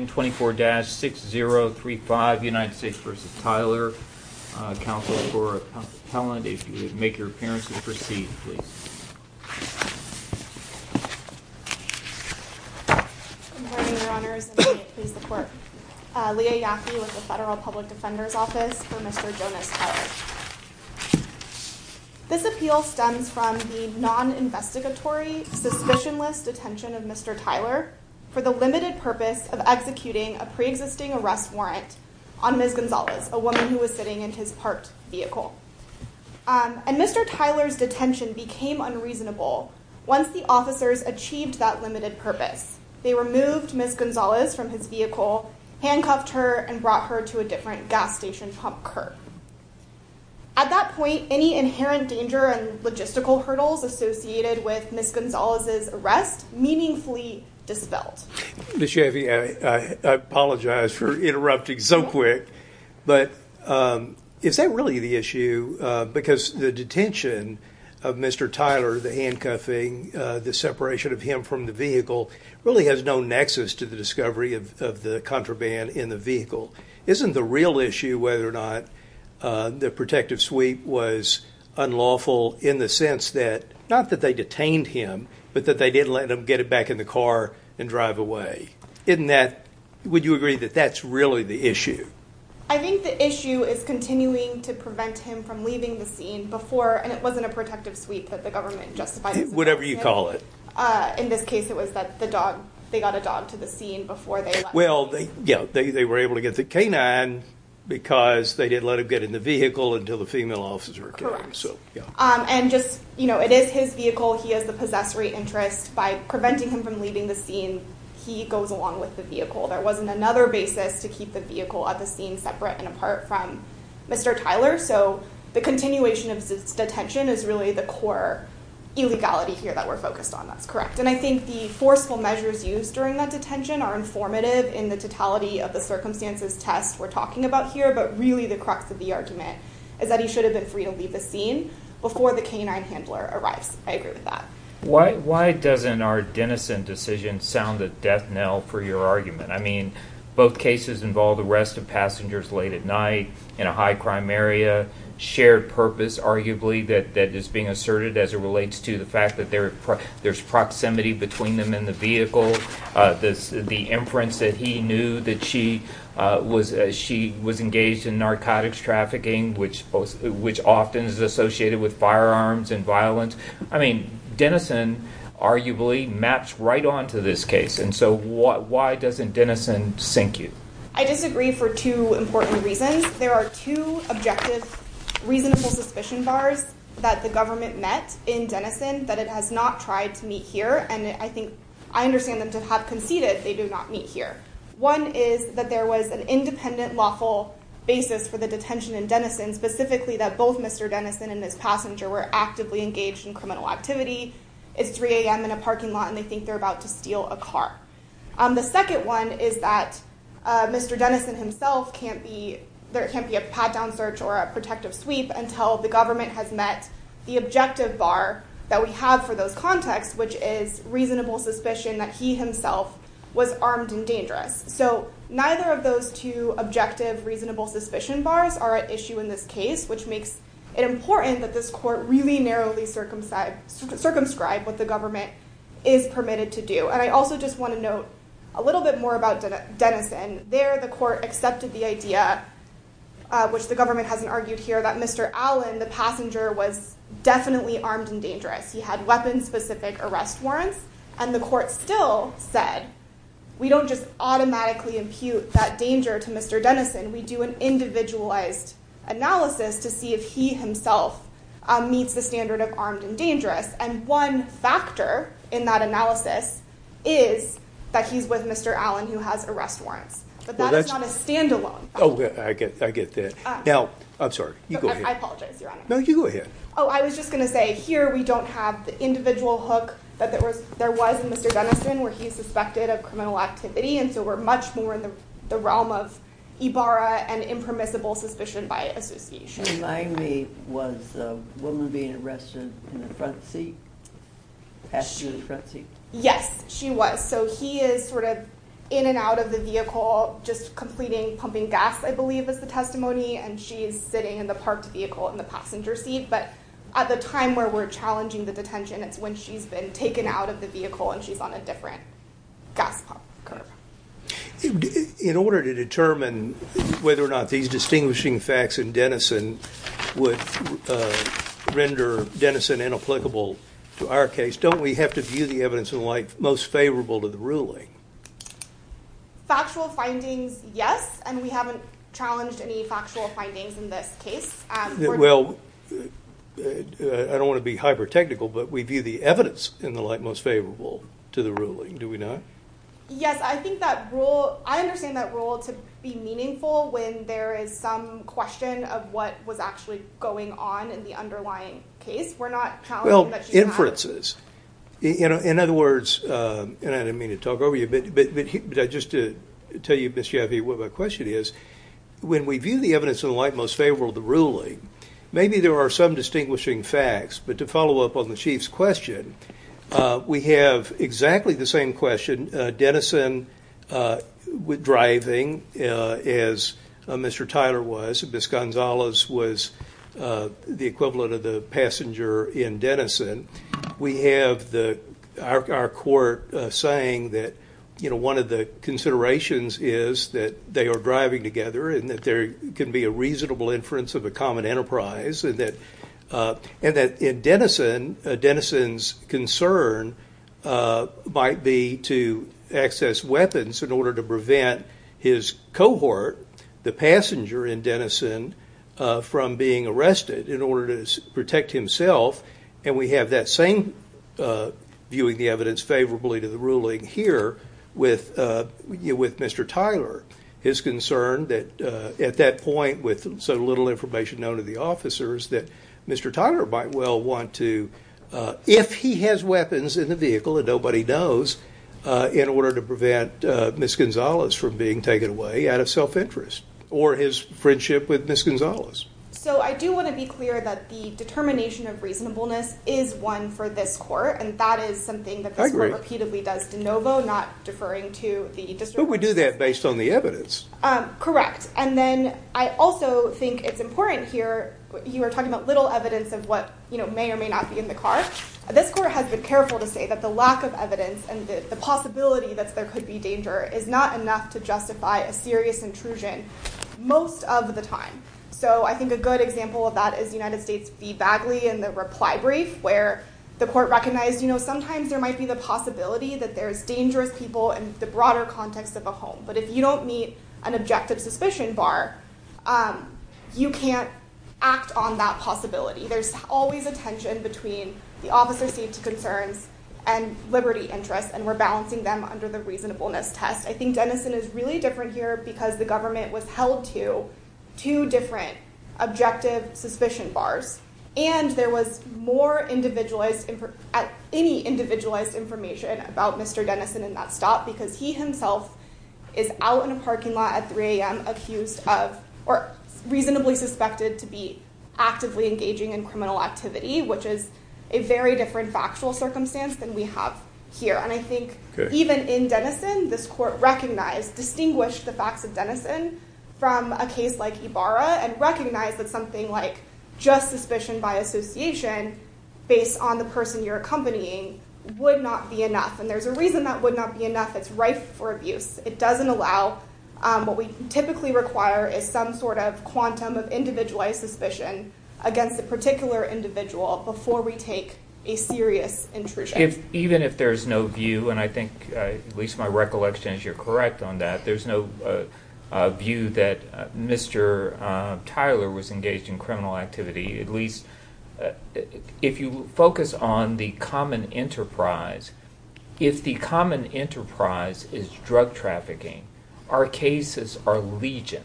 This appeal stems from the non-investigatory, suspicionless detention of Mr. Tyler for the limited purpose of executing a pre-existing arrest warrant on Ms. Gonzalez, a woman who was sitting in his parked vehicle. And Mr. Tyler's detention became unreasonable once the officers achieved that limited purpose. They removed Ms. Gonzalez from his vehicle, handcuffed her, and brought her to a different gas station to help curb. At that point, any inherent danger and logistical hurdles associated with Ms. Gonzalez's arrest meaningfully dispelled. Mr. Chaffee, I apologize for interrupting so quick, but is that really the issue? Because the detention of Mr. Tyler, the handcuffing, the separation of him from the vehicle, really has no nexus to the discovery of the contraband in the vehicle. Isn't the real issue whether or not the protective suite was unlawful in the sense that not that they detained him, but that they didn't let him get it back in the car and drive away? Would you agree that that's really the issue? I think the issue is continuing to prevent him from leaving the scene before, and it wasn't a protective suite that the government justified. Whatever you call it. In this case, it was that the dog, they got a dog to the scene before they let him. Well, yeah, they were able to get the canine because they didn't let him get in the vehicle until the female officer came. And just, it is his vehicle, he has the possessory interest. By preventing him from leaving the scene, he goes along with the vehicle. There wasn't another basis to keep the vehicle at the scene separate and apart from Mr. Tyler. So the continuation of detention is really the core illegality here that we're focused on. That's correct. And I think the forceful measures used during that detention are informative in the totality of the circumstances test we're talking about here, but really the crux of the argument is that he should have been free to leave the scene before the canine handler arrives. I agree with that. Why doesn't our denizen decision sound a death knell for your argument? I mean, both cases involve the rest of passengers late at night in a high crime area, shared purpose arguably that is being asserted as it relates to the fact that there's proximity between them and the vehicle. The imprints that he knew that she was engaged in narcotics trafficking, which often is associated with firearms and violence. I mean, denizen arguably maps right onto this case. And so why doesn't denizen sink you? I disagree for two important reasons. There are two objective, reasonable suspicion bars that the government met in denizen that it has not tried to meet here. And I think I understand them to have conceded they do not meet here. One is that there was an independent lawful basis for the detention in denizen specifically that both Mr. Denizen and his passenger were actively engaged in criminal activity. It's 3 a.m. in a parking lot and they think they're about to steal a car. The second one is that Mr. Denizen himself can't be, there can't be a pat down search or a protective sweep until the government has met the objective bar that we have for those contexts, which is reasonable suspicion that he himself was armed and dangerous. So neither of those two objective, reasonable suspicion bars are at issue in this case, which makes it important that this court really narrowly circumscribe what the government is permitted to do. And I also just want to note a little bit more about denizen. There the court accepted the idea, which the government hasn't argued here, that Mr. Allen, the passenger was definitely armed and dangerous. He had weapons specific arrest warrants and the court still said, we don't just automatically impute that danger to Mr. Denizen. We do an individualized analysis to see if he himself meets the standard of armed and And one factor in that analysis is that he's with Mr. Allen who has arrest warrants, but that's not a standalone. Oh, I get that. Now, I'm sorry. You go ahead. I apologize, Your Honor. No, you go ahead. Oh, I was just going to say, here, we don't have the individual hook that there was. There was Mr. Denizen where he is suspected of criminal activity, and so we're much more in the realm of Ibarra and impermissible suspicion by association. Remind me, was the woman being arrested in the front seat, passenger in the front seat? Yes, she was. So he is sort of in and out of the vehicle, just completing pumping gas, I believe is the testimony, and she is sitting in the parked vehicle in the passenger seat. But at the time where we're challenging the detention, it's when she's been taken out of the vehicle and she's on a different gas pump curve. In order to determine whether or not these distinguishing facts in Denizen would render Denizen inapplicable to our case, don't we have to view the evidence in light most favorable to the ruling? Factual findings, yes, and we haven't challenged any factual findings in this case. Well, I don't want to be hyper-technical, but we view the evidence in the light most favorable to the ruling, do we not? Yes, I think that rule, I understand that rule to be meaningful when there is some question of what was actually going on in the underlying case. We're not challenging that she's not- Well, inferences. In other words, and I didn't mean to talk over you, but just to tell you, Ms. Jaffee, what my question is, when we view the evidence in the light most favorable to the ruling, maybe there are some distinguishing facts, but to follow up on the Chief's question, we have exactly the same question, Denizen driving, as Mr. Tyler was, Ms. Gonzalez was the equivalent of the passenger in Denizen. We have our court saying that one of the considerations is that they are driving together and that there can be a reasonable inference of a common enterprise, and that in Denizen, Denizen's concern might be to access weapons in order to prevent his cohort, the passenger in Denizen, from being arrested in order to protect himself, and we have that same viewing the evidence favorably to the ruling here with Mr. Tyler, his concern that at that point, with so little information known to the officers, that Mr. Tyler might well want to, if he has weapons in the vehicle and nobody knows, in order to prevent Ms. Gonzalez from being taken away out of self-interest, or his friendship with Ms. Gonzalez. So I do want to be clear that the determination of reasonableness is one for this court, and that is something that this court repeatedly does de novo, not deferring to the district. But we do that based on the evidence. Correct, and then I also think it's important here, you were talking about little evidence of what may or may not be in the car, this court has been careful to say that the lack of evidence and the possibility that there could be danger is not enough to justify a serious intrusion, most of the time. So I think a good example of that is United States v. Bagley in the reply brief, where the court recognized, you know, sometimes there might be the possibility that there's dangerous people in the broader context of a home, but if you don't meet an objective suspicion bar, you can't act on that possibility. There's always a tension between the officer's safety concerns and liberty interests, and we're balancing them under the reasonableness test. I think Denison is really different here because the government withheld to two different objective suspicion bars, and there was more individualized, any individualized information about Mr. Denison in that stop, because he himself is out in a parking lot at 3 a.m. accused of, or reasonably suspected to be actively engaging in criminal activity, which is a very different factual circumstance than we have here. And I think even in Denison, this court recognized, distinguished the facts of Denison from a case like Ibarra, and recognized that something like just suspicion by association based on the person you're accompanying would not be enough, and there's a reason that would not be enough. It's rife for abuse. It doesn't allow, what we typically require is some sort of quantum of individualized suspicion against a particular individual before we take a serious intrusion. Even if there's no view, and I think at least my recollection is you're correct on that, there's no view that Mr. Tyler was engaged in criminal activity, at least if you focus on the common enterprise, if the common enterprise is drug trafficking, our cases are legion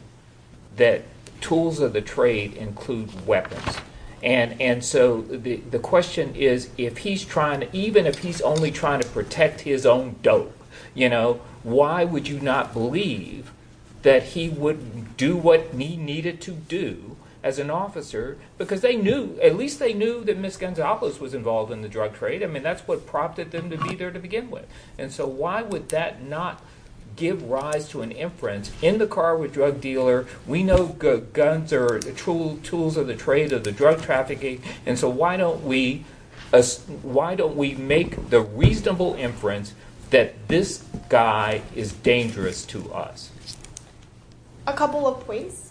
that tools of the trade include weapons. And so the question is, if he's trying, even if he's only trying to protect his own dope, you know, why would you not believe that he would do what he needed to do as an officer, because they knew, at least they knew that Ms. Gonzalez was involved in the drug trade. I mean, that's what prompted them to be there to begin with. And so why would that not give rise to an inference, in the car with drug dealer, we know guns are tools of the trade or the drug trafficking, and so why don't we make the reasonable inference that this guy is dangerous to us? A couple of points.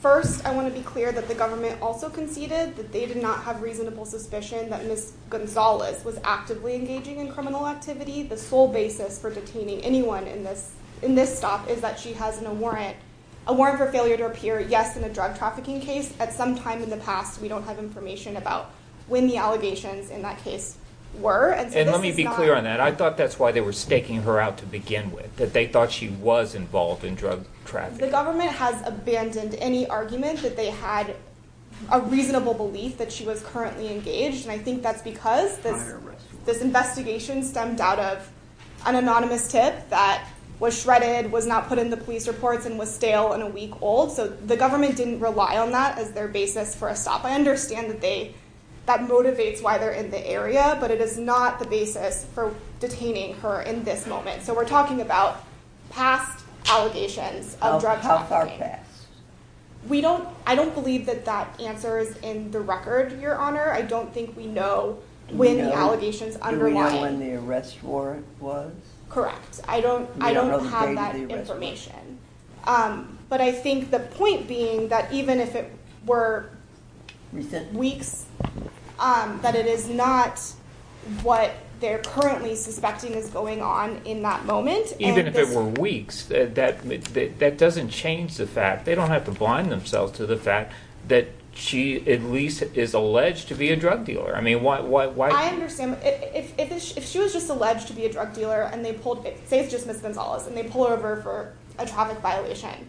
First, I want to be clear that the government also conceded that they did not have reasonable suspicion that Ms. Gonzalez was actively engaging in criminal activity. The sole basis for detaining anyone in this stop is that she has a warrant for failure to appear, yes, in a drug trafficking case. At some time in the past, we don't have information about when the allegations in that case were. And let me be clear on that. I thought that's why they were staking her out to begin with, that they thought she was involved in drug trafficking. The government has abandoned any argument that they had a reasonable belief that she was currently engaged. I think that's because this investigation stemmed out of an anonymous tip that was shredded, was not put in the police reports, and was stale and a week old. So the government didn't rely on that as their basis for a stop. I understand that that motivates why they're in the area, but it is not the basis for detaining her in this moment. So we're talking about past allegations of drug trafficking. I don't believe that that answers in the record, Your Honor. I don't think we know when the allegations underlie- You don't know when the arrest warrant was? Correct. I don't have that information. But I think the point being that even if it were weeks, that it is not what they're currently suspecting is going on in that moment. Even if it were weeks, that doesn't change the fact, they don't have to blind themselves to the fact that she at least is alleged to be a drug dealer. I mean, why- If she was just alleged to be a drug dealer and they pulled, say it's just Ms. Gonzalez, and they pull her over for a traffic violation,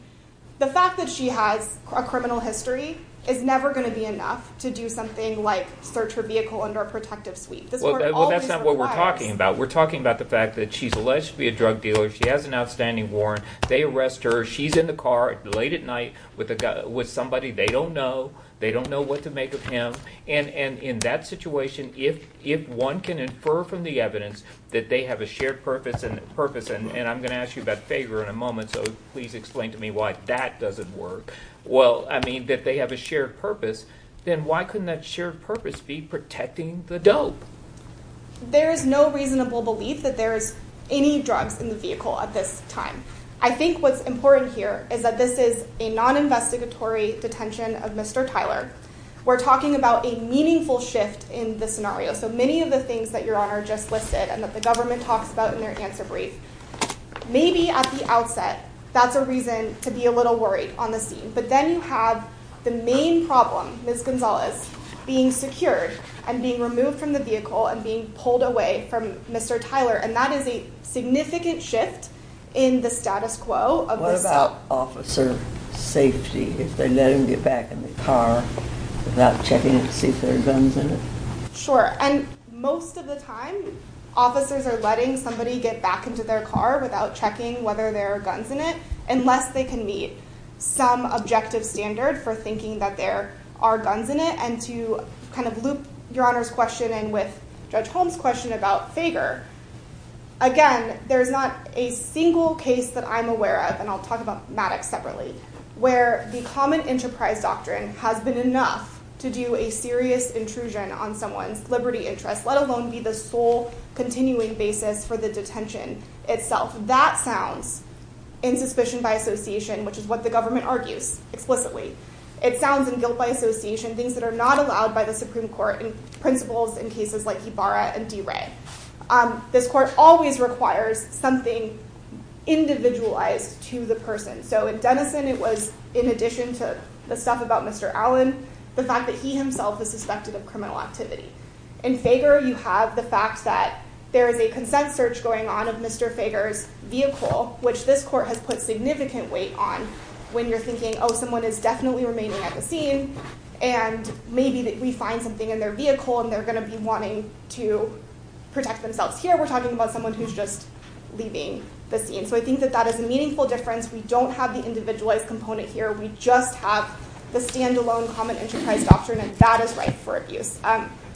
the fact that she has a criminal history is never going to be enough to do something like search her vehicle under a protective suite. This court always requires- Well, that's not what we're talking about. We're talking about the fact that she's alleged to be a drug dealer, she has an outstanding warrant, they arrest her, she's in the car late at night with somebody they don't know, they don't know what to make of him, and in that situation if one can infer from the evidence that they have a shared purpose, and I'm going to ask you about Fager in a moment, so please explain to me why that doesn't work, well, I mean, that they have a shared purpose, then why couldn't that shared purpose be protecting the dope? There is no reasonable belief that there is any drugs in the vehicle at this time. I think what's important here is that this is a non-investigatory detention of Mr. Tyler. We're talking about a meaningful shift in the scenario, so many of the things that you're on are just listed and that the government talks about in their answer brief. Maybe at the outset, that's a reason to be a little worried on the scene, but then you have the main problem, Ms. Gonzalez, being secured and being removed from the vehicle and being pulled away from Mr. Tyler, and that is a significant shift in the status quo of this- What about officer safety? If they let him get back in the car without checking to see if there are guns in it? Sure, and most of the time, officers are letting somebody get back into their car without checking whether there are guns in it, unless they can meet some objective standard for thinking that there are guns in it, and to loop your Honor's question in with Judge Holmes' question about Fager, again, there's not a single case that I'm aware of, and I'll talk about Maddox separately, where the common enterprise doctrine has been enough to do a serious intrusion on someone's liberty interest, let alone be the sole continuing basis for the detention itself. That sounds, in suspicion by association, which is what the government argues explicitly, it sounds in guilt by association, things that are not allowed by the Supreme Court and principles in cases like Ibarra and DeRay. This court always requires something individualized to the person, so in Denison, it was, in addition to the stuff about Mr. Allen, the fact that he himself is suspected of criminal activity. In Fager, you have the fact that there is a consent search going on of Mr. Fager's vehicle, which this court has put significant weight on, when you're thinking, oh, someone is definitely remaining at the scene, and maybe we find something in their vehicle, and they're going to be wanting to protect themselves. Here, we're talking about someone who's just leaving the scene, so I think that that is a meaningful difference, we don't have the individualized component here, we just have the standalone common enterprise doctrine, and that is right for abuse.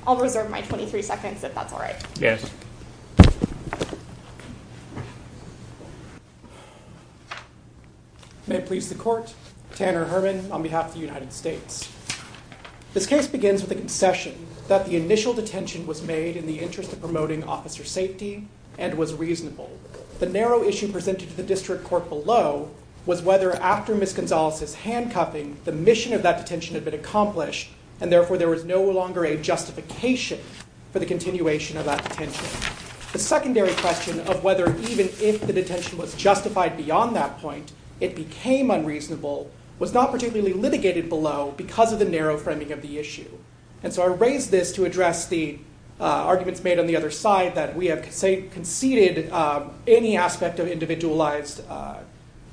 I'll reserve my 23 seconds, if that's all right. Yes. May it please the court, Tanner Herman, on behalf of the United States. This case begins with a concession that the initial detention was made in the interest of promoting officer safety, and was reasonable. The narrow issue presented to the district court below was whether, after Ms. Gonzalez's handcuffing, the mission of that detention had been accomplished, and therefore there was no longer a justification for the continuation of that detention. The secondary question of whether, even if the detention was justified beyond that point, it became unreasonable, was not particularly litigated below, because of the narrow framing of the issue. And so I raise this to address the arguments made on the other side, that we have conceded any aspect of individualized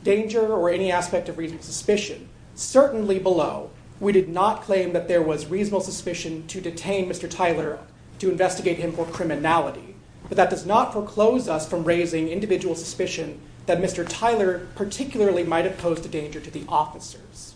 danger, or any aspect of reasonable suspicion. Certainly below, we did not claim that there was reasonable suspicion to detain Mr. Tyler to investigate him for criminality, but that does not foreclose us from raising individual suspicion that Mr. Tyler particularly might have posed a danger to the officers.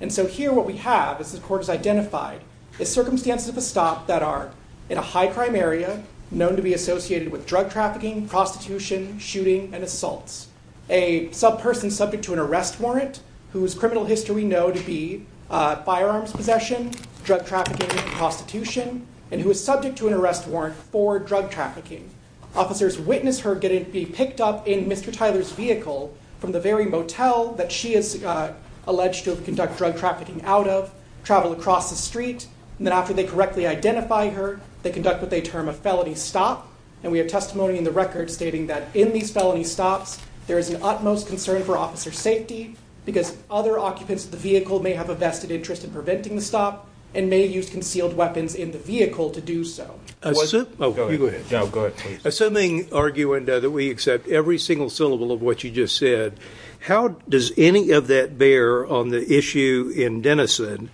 And so here what we have, as the court has identified, is circumstances of a stop that are in a high crime area, known to be associated with drug trafficking, prostitution, shooting, and assaults. A subperson subject to an arrest warrant, whose criminal history we know to be firearms possession, drug trafficking, prostitution, and who is subject to an arrest warrant for drug trafficking. Officers witness her getting picked up in Mr. Tyler's vehicle from the very motel that she is alleged to have conducted drug trafficking out of, traveled across the street, and then after they correctly identify her, they conduct what they term a felony stop. And we have testimony in the record stating that in these felony stops, there is an utmost concern for officer safety, because other occupants of the vehicle may have a vested interest in preventing the stop, and may use concealed weapons in the vehicle to do so. Go ahead. No, go ahead. Please. Assuming, arguing that we accept every single syllable of what you just said, how does any of that bear on the issue in Denison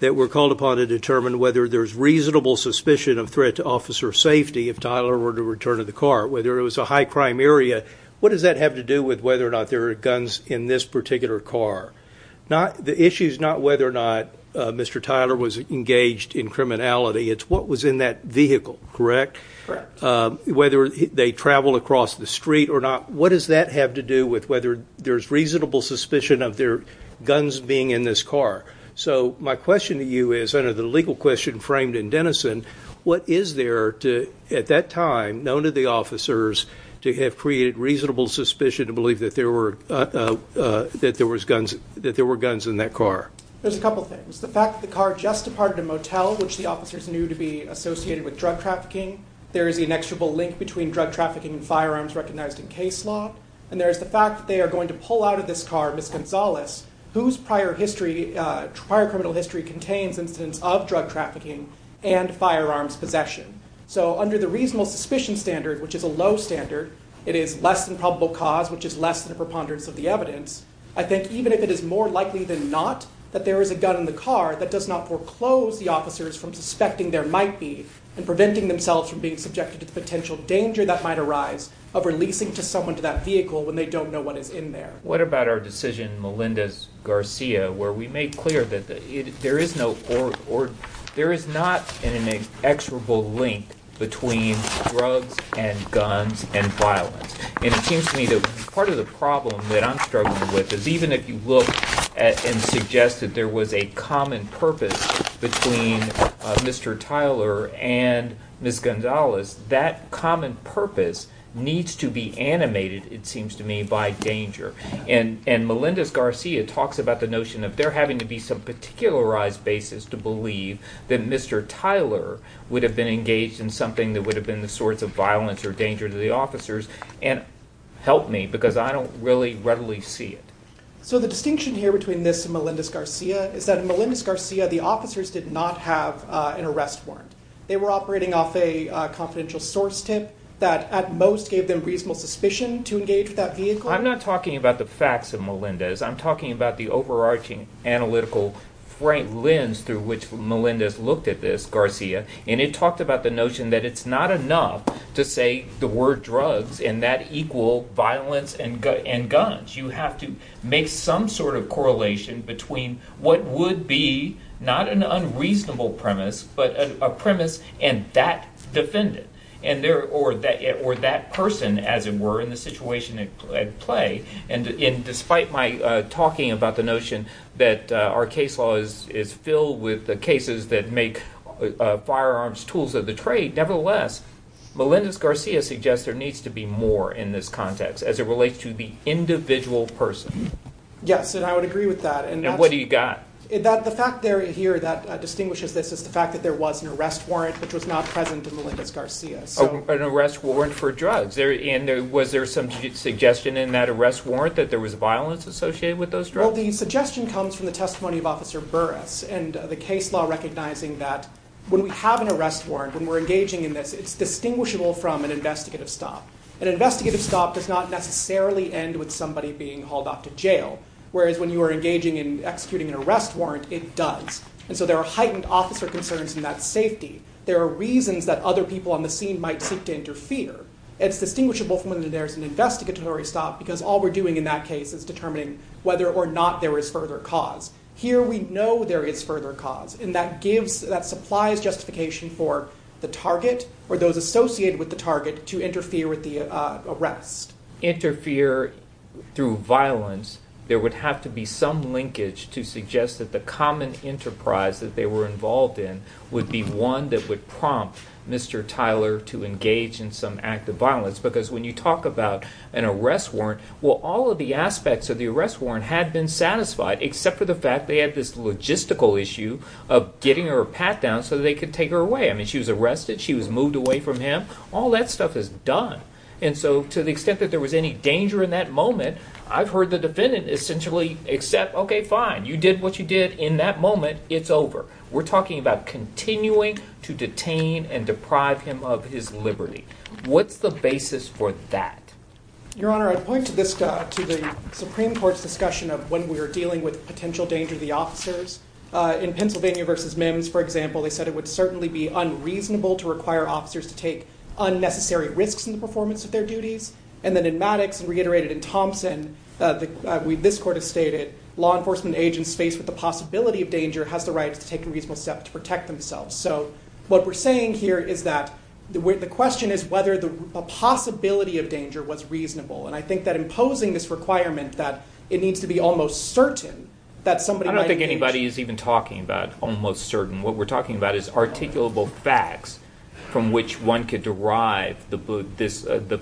that we're called upon to determine whether there's reasonable suspicion of threat to officer safety if Tyler were to return to the car? Whether it was a high crime area, what does that have to do with whether or not there are guns in this particular car? The issue is not whether or not Mr. Tyler was engaged in criminality, it's what was in that vehicle, correct? Correct. Whether they traveled across the street or not, what does that have to do with whether there's reasonable suspicion of there guns being in this car? My question to you is, under the legal question framed in Denison, what is there at that time, known to the officers, to have created reasonable suspicion to believe that there were guns in that car? There's a couple things. The fact that the car just departed a motel, which the officers knew to be associated with drug trafficking. There is an inexorable link between drug trafficking and firearms recognized in case law, and there's the fact that they are going to pull out of this car Ms. Gonzalez, whose prior criminal history contains incidents of drug trafficking and firearms possession. So under the reasonable suspicion standard, which is a low standard, it is less than probable cause, which is less than a preponderance of the evidence. I think even if it is more likely than not that there is a gun in the car, that does not foreclose the officers from suspecting there might be, and preventing themselves from being subjected to the potential danger that might arise of releasing someone to that vehicle when they don't know what is in there. What about our decision, Melendez-Garcia, where we made clear that there is not an inexorable link between drugs and guns and violence? And it seems to me that part of the problem that I'm struggling with is even if you look and suggest that there was a common purpose between Mr. Tyler and Ms. Gonzalez, that common purpose needs to be animated, it seems to me, by danger. And Melendez-Garcia talks about the notion of there having to be some particularized basis to believe that Mr. Tyler would have been engaged in something that would have been the source of violence or danger to the officers, and help me, because I don't really readily see it. So the distinction here between this and Melendez-Garcia is that in Melendez-Garcia, the officers did not have an arrest warrant. They were operating off a confidential source tip that at most gave them reasonable suspicion to engage with that vehicle. I'm not talking about the facts of Melendez. I'm talking about the overarching analytical lens through which Melendez looked at this, Garcia, and it talked about the notion that it's not enough to say the word drugs and that equal violence and guns. You have to make some sort of correlation between what would be not an unreasonable premise, but a premise and that defendant, or that person, as it were, in the situation at play. And despite my talking about the notion that our case law is filled with the cases that make firearms tools of the trade, nevertheless, Melendez-Garcia suggests there needs to be more in this context as it relates to the individual person. Yes. And I would agree with that. And what do you got? The fact there, here, that distinguishes this is the fact that there was an arrest warrant which was not present in Melendez-Garcia. An arrest warrant for drugs, and was there some suggestion in that arrest warrant that there was violence associated with those drugs? Well, the suggestion comes from the testimony of Officer Burris and the case law recognizing that when we have an arrest warrant, when we're engaging in this, it's distinguishable from an investigative stop. An investigative stop does not necessarily end with somebody being hauled off to jail, whereas when you are engaging in executing an arrest warrant, it does. And so there are heightened officer concerns in that safety. There are reasons that other people on the scene might seek to interfere. It's distinguishable from when there's an investigatory stop because all we're doing in that case is determining whether or not there is further cause. Here we know there is further cause, and that supplies justification for the target or those associated with the target to interfere with the arrest. To interfere through violence, there would have to be some linkage to suggest that the common enterprise that they were involved in would be one that would prompt Mr. Tyler to engage in some act of violence. Because when you talk about an arrest warrant, well, all of the aspects of the arrest warrant had been satisfied, except for the fact they had this logistical issue of getting her pat down so they could take her away. I mean, she was arrested, she was moved away from him. All that stuff is done. And so to the extent that there was any danger in that moment, I've heard the defendant essentially accept, okay, fine, you did what you did in that moment, it's over. We're talking about continuing to detain and deprive him of his liberty. What's the basis for that? Your Honor, I'd point to the Supreme Court's discussion of when we were dealing with potential danger to the officers. In Pennsylvania v. Mims, for example, they said it would certainly be unreasonable to require officers to take unnecessary risks in the performance of their duties. And then in Maddox, reiterated in Thompson, this Court has stated, law enforcement agents faced with the possibility of danger has the right to take a reasonable step to protect themselves. So what we're saying here is that the question is whether the possibility of danger was reasonable. And I think that imposing this requirement that it needs to be almost certain that somebody might engage. I don't think anybody is even talking about almost certain. What we're talking about is articulable facts from which one could derive the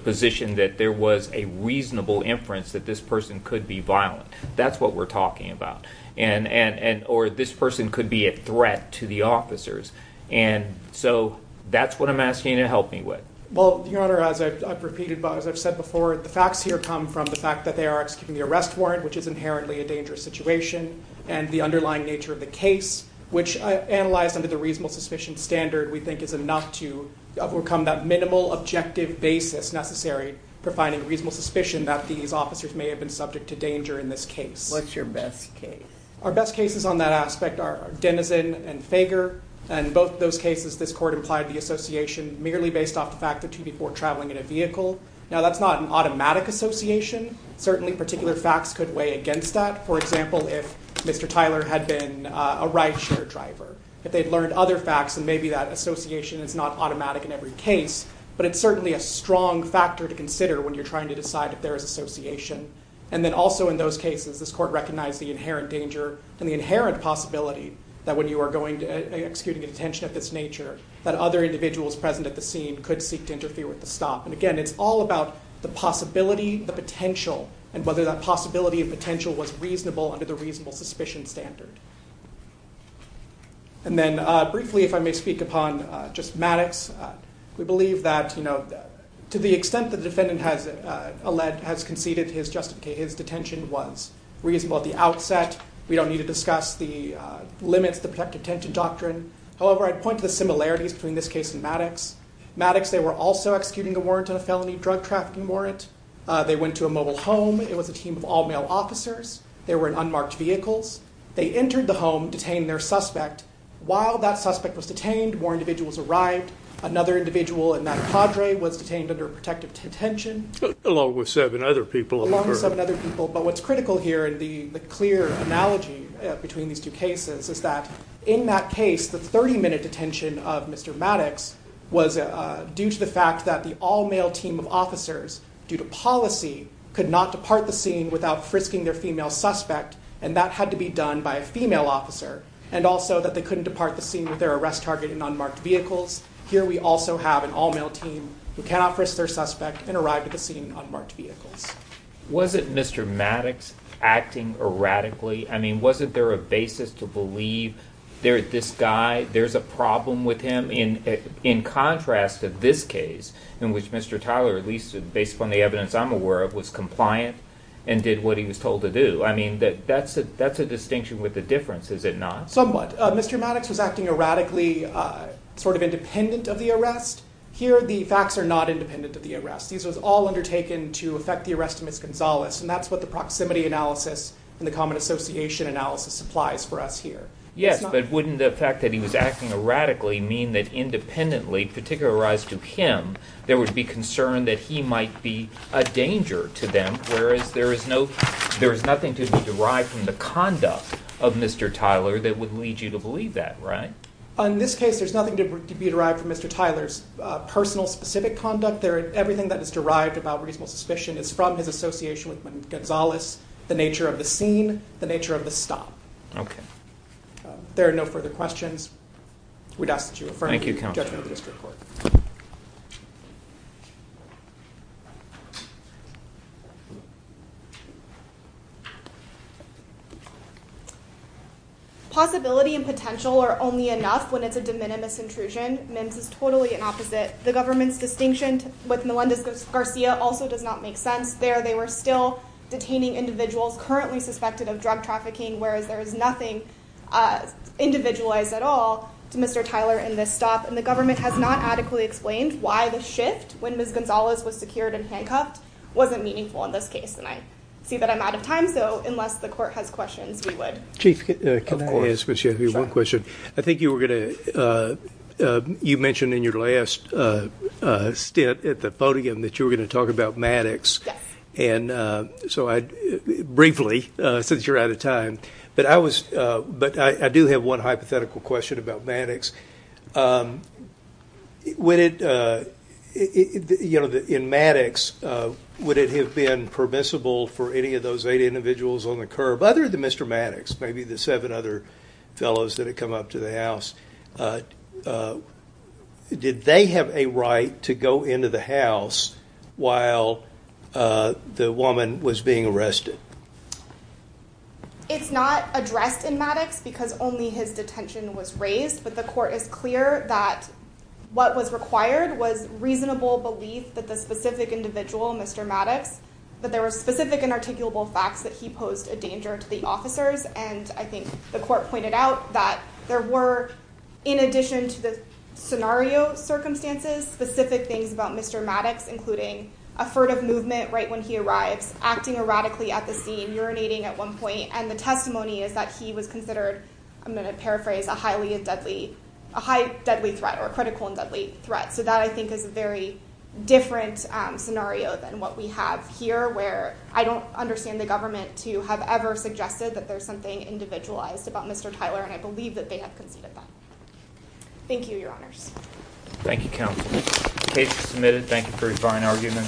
position that there was a reasonable inference that this person could be violent. That's what we're talking about. Or this person could be a threat to the officers. And so that's what I'm asking you to help me with. Well, Your Honor, as I've repeated, as I've said before, the facts here come from the fact that they are executing the arrest warrant, which is inherently a dangerous situation, and the underlying nature of the case, which, analyzed under the reasonable suspicion standard, we think is enough to overcome that minimal objective basis necessary for finding reasonable suspicion that these officers may have been subject to danger in this case. What's your best case? Our best cases on that aspect are Dennison and Fager. And both of those cases, this Court implied the association merely based off the fact that two people were traveling in a vehicle. Now that's not an automatic association. Certainly particular facts could weigh against that. For example, if Mr. Tyler had been a rideshare driver, if they'd learned other facts, then maybe that association is not automatic in every case, but it's certainly a strong factor to consider when you're trying to decide if there is association. And then also in those cases, this Court recognized the inherent danger and the inherent possibility that when you are going to execute a detention of this nature, that other individuals present at the scene could seek to interfere with the stop. And again, it's all about the possibility, the potential, and whether that possibility and potential was reasonable under the reasonable suspicion standard. And then briefly, if I may speak upon just Maddox, we believe that, you know, to the extent that the defendant has conceded his detention was reasonable at the outset. We don't need to discuss the limits of the protective detention doctrine. However, I'd point to the similarities between this case and Maddox. Maddox, they were also executing a warrant on a felony drug trafficking warrant. They went to a mobile home. It was a team of all-male officers. They were in unmarked vehicles. They entered the home, detained their suspect. While that suspect was detained, more individuals arrived. Another individual in that cadre was detained under protective detention. Along with seven other people. Along with seven other people. But what's critical here, and the clear analogy between these two cases, is that in that case, the 30-minute detention of Mr. Maddox was due to the fact that the all-male team of officers, due to policy, could not depart the scene without frisking their female suspect, and that had to be done by a female officer. And also that they couldn't depart the scene with their arrest target in unmarked vehicles. Here we also have an all-male team who cannot frisk their suspect and arrive at the scene in unmarked vehicles. Was it Mr. Maddox acting erratically? I mean, wasn't there a basis to believe there's this guy, there's a problem with him? In contrast to this case, in which Mr. Tyler, at least based on the evidence I'm aware of, was compliant and did what he was told to do, I mean, that's a distinction with a difference, is it not? Somewhat. Mr. Maddox was acting erratically, sort of independent of the arrest. Here the facts are not independent of the arrest. These were all undertaken to affect the arrest of Ms. Gonzalez, and that's what the proximity analysis and the common association analysis supplies for us here. Yes, but wouldn't the fact that he was acting erratically mean that independently, particularized to him, there would be concern that he might be a danger to them, whereas there is nothing to be derived from the conduct of Mr. Tyler that would lead you to believe that, right? In this case, there's nothing to be derived from Mr. Tyler's personal specific conduct. Everything that is derived about reasonable suspicion is from his association with Ms. Gonzalez, the nature of the scene, the nature of the stop. Okay. If there are no further questions, we'd ask that you refer to the judgment of the district court. Possibility and potential are only enough when it's a de minimis intrusion. MIMS is totally an opposite. The government's distinction with Melendez-Garcia also does not make sense there. They were still detaining individuals currently suspected of drug trafficking, whereas there is nothing individualized at all to Mr. Tyler in this stop. And the government has not adequately explained why the shift when Ms. Gonzalez was secured and handcuffed wasn't meaningful in this case. And I see that I'm out of time. So unless the court has questions, we would. Chief, can I ask you one question? Sure. I think you mentioned in your last stint at the podium that you were going to talk about Maddox briefly, since you're out of time. But I do have one hypothetical question about Maddox. In Maddox, would it have been permissible for any of those eight individuals on the curb, other than Mr. Maddox, maybe the seven other fellows that had come up to the house, did they have a right to go into the house while the woman was being arrested? It's not addressed in Maddox because only his detention was raised. But the court is clear that what was required was reasonable belief that the specific individual, Mr. Maddox, that there were specific and articulable facts that he posed a danger to the officers. And I think the court pointed out that there were, in addition to the scenario circumstances, specific things about Mr. Maddox, including a furtive movement right when he arrives, acting erratically at the scene, urinating at one point. And the testimony is that he was considered, I'm going to paraphrase, a highly deadly threat or a critical and deadly threat. So that, I think, is a very different scenario than what we have here, where I don't understand the government to have ever suggested that there's something individualized about Mr. Tyler, and I believe that they have conceded that. Thank you, Your Honors. Thank you, Counsel. The case is submitted. Thank you for your fine argument.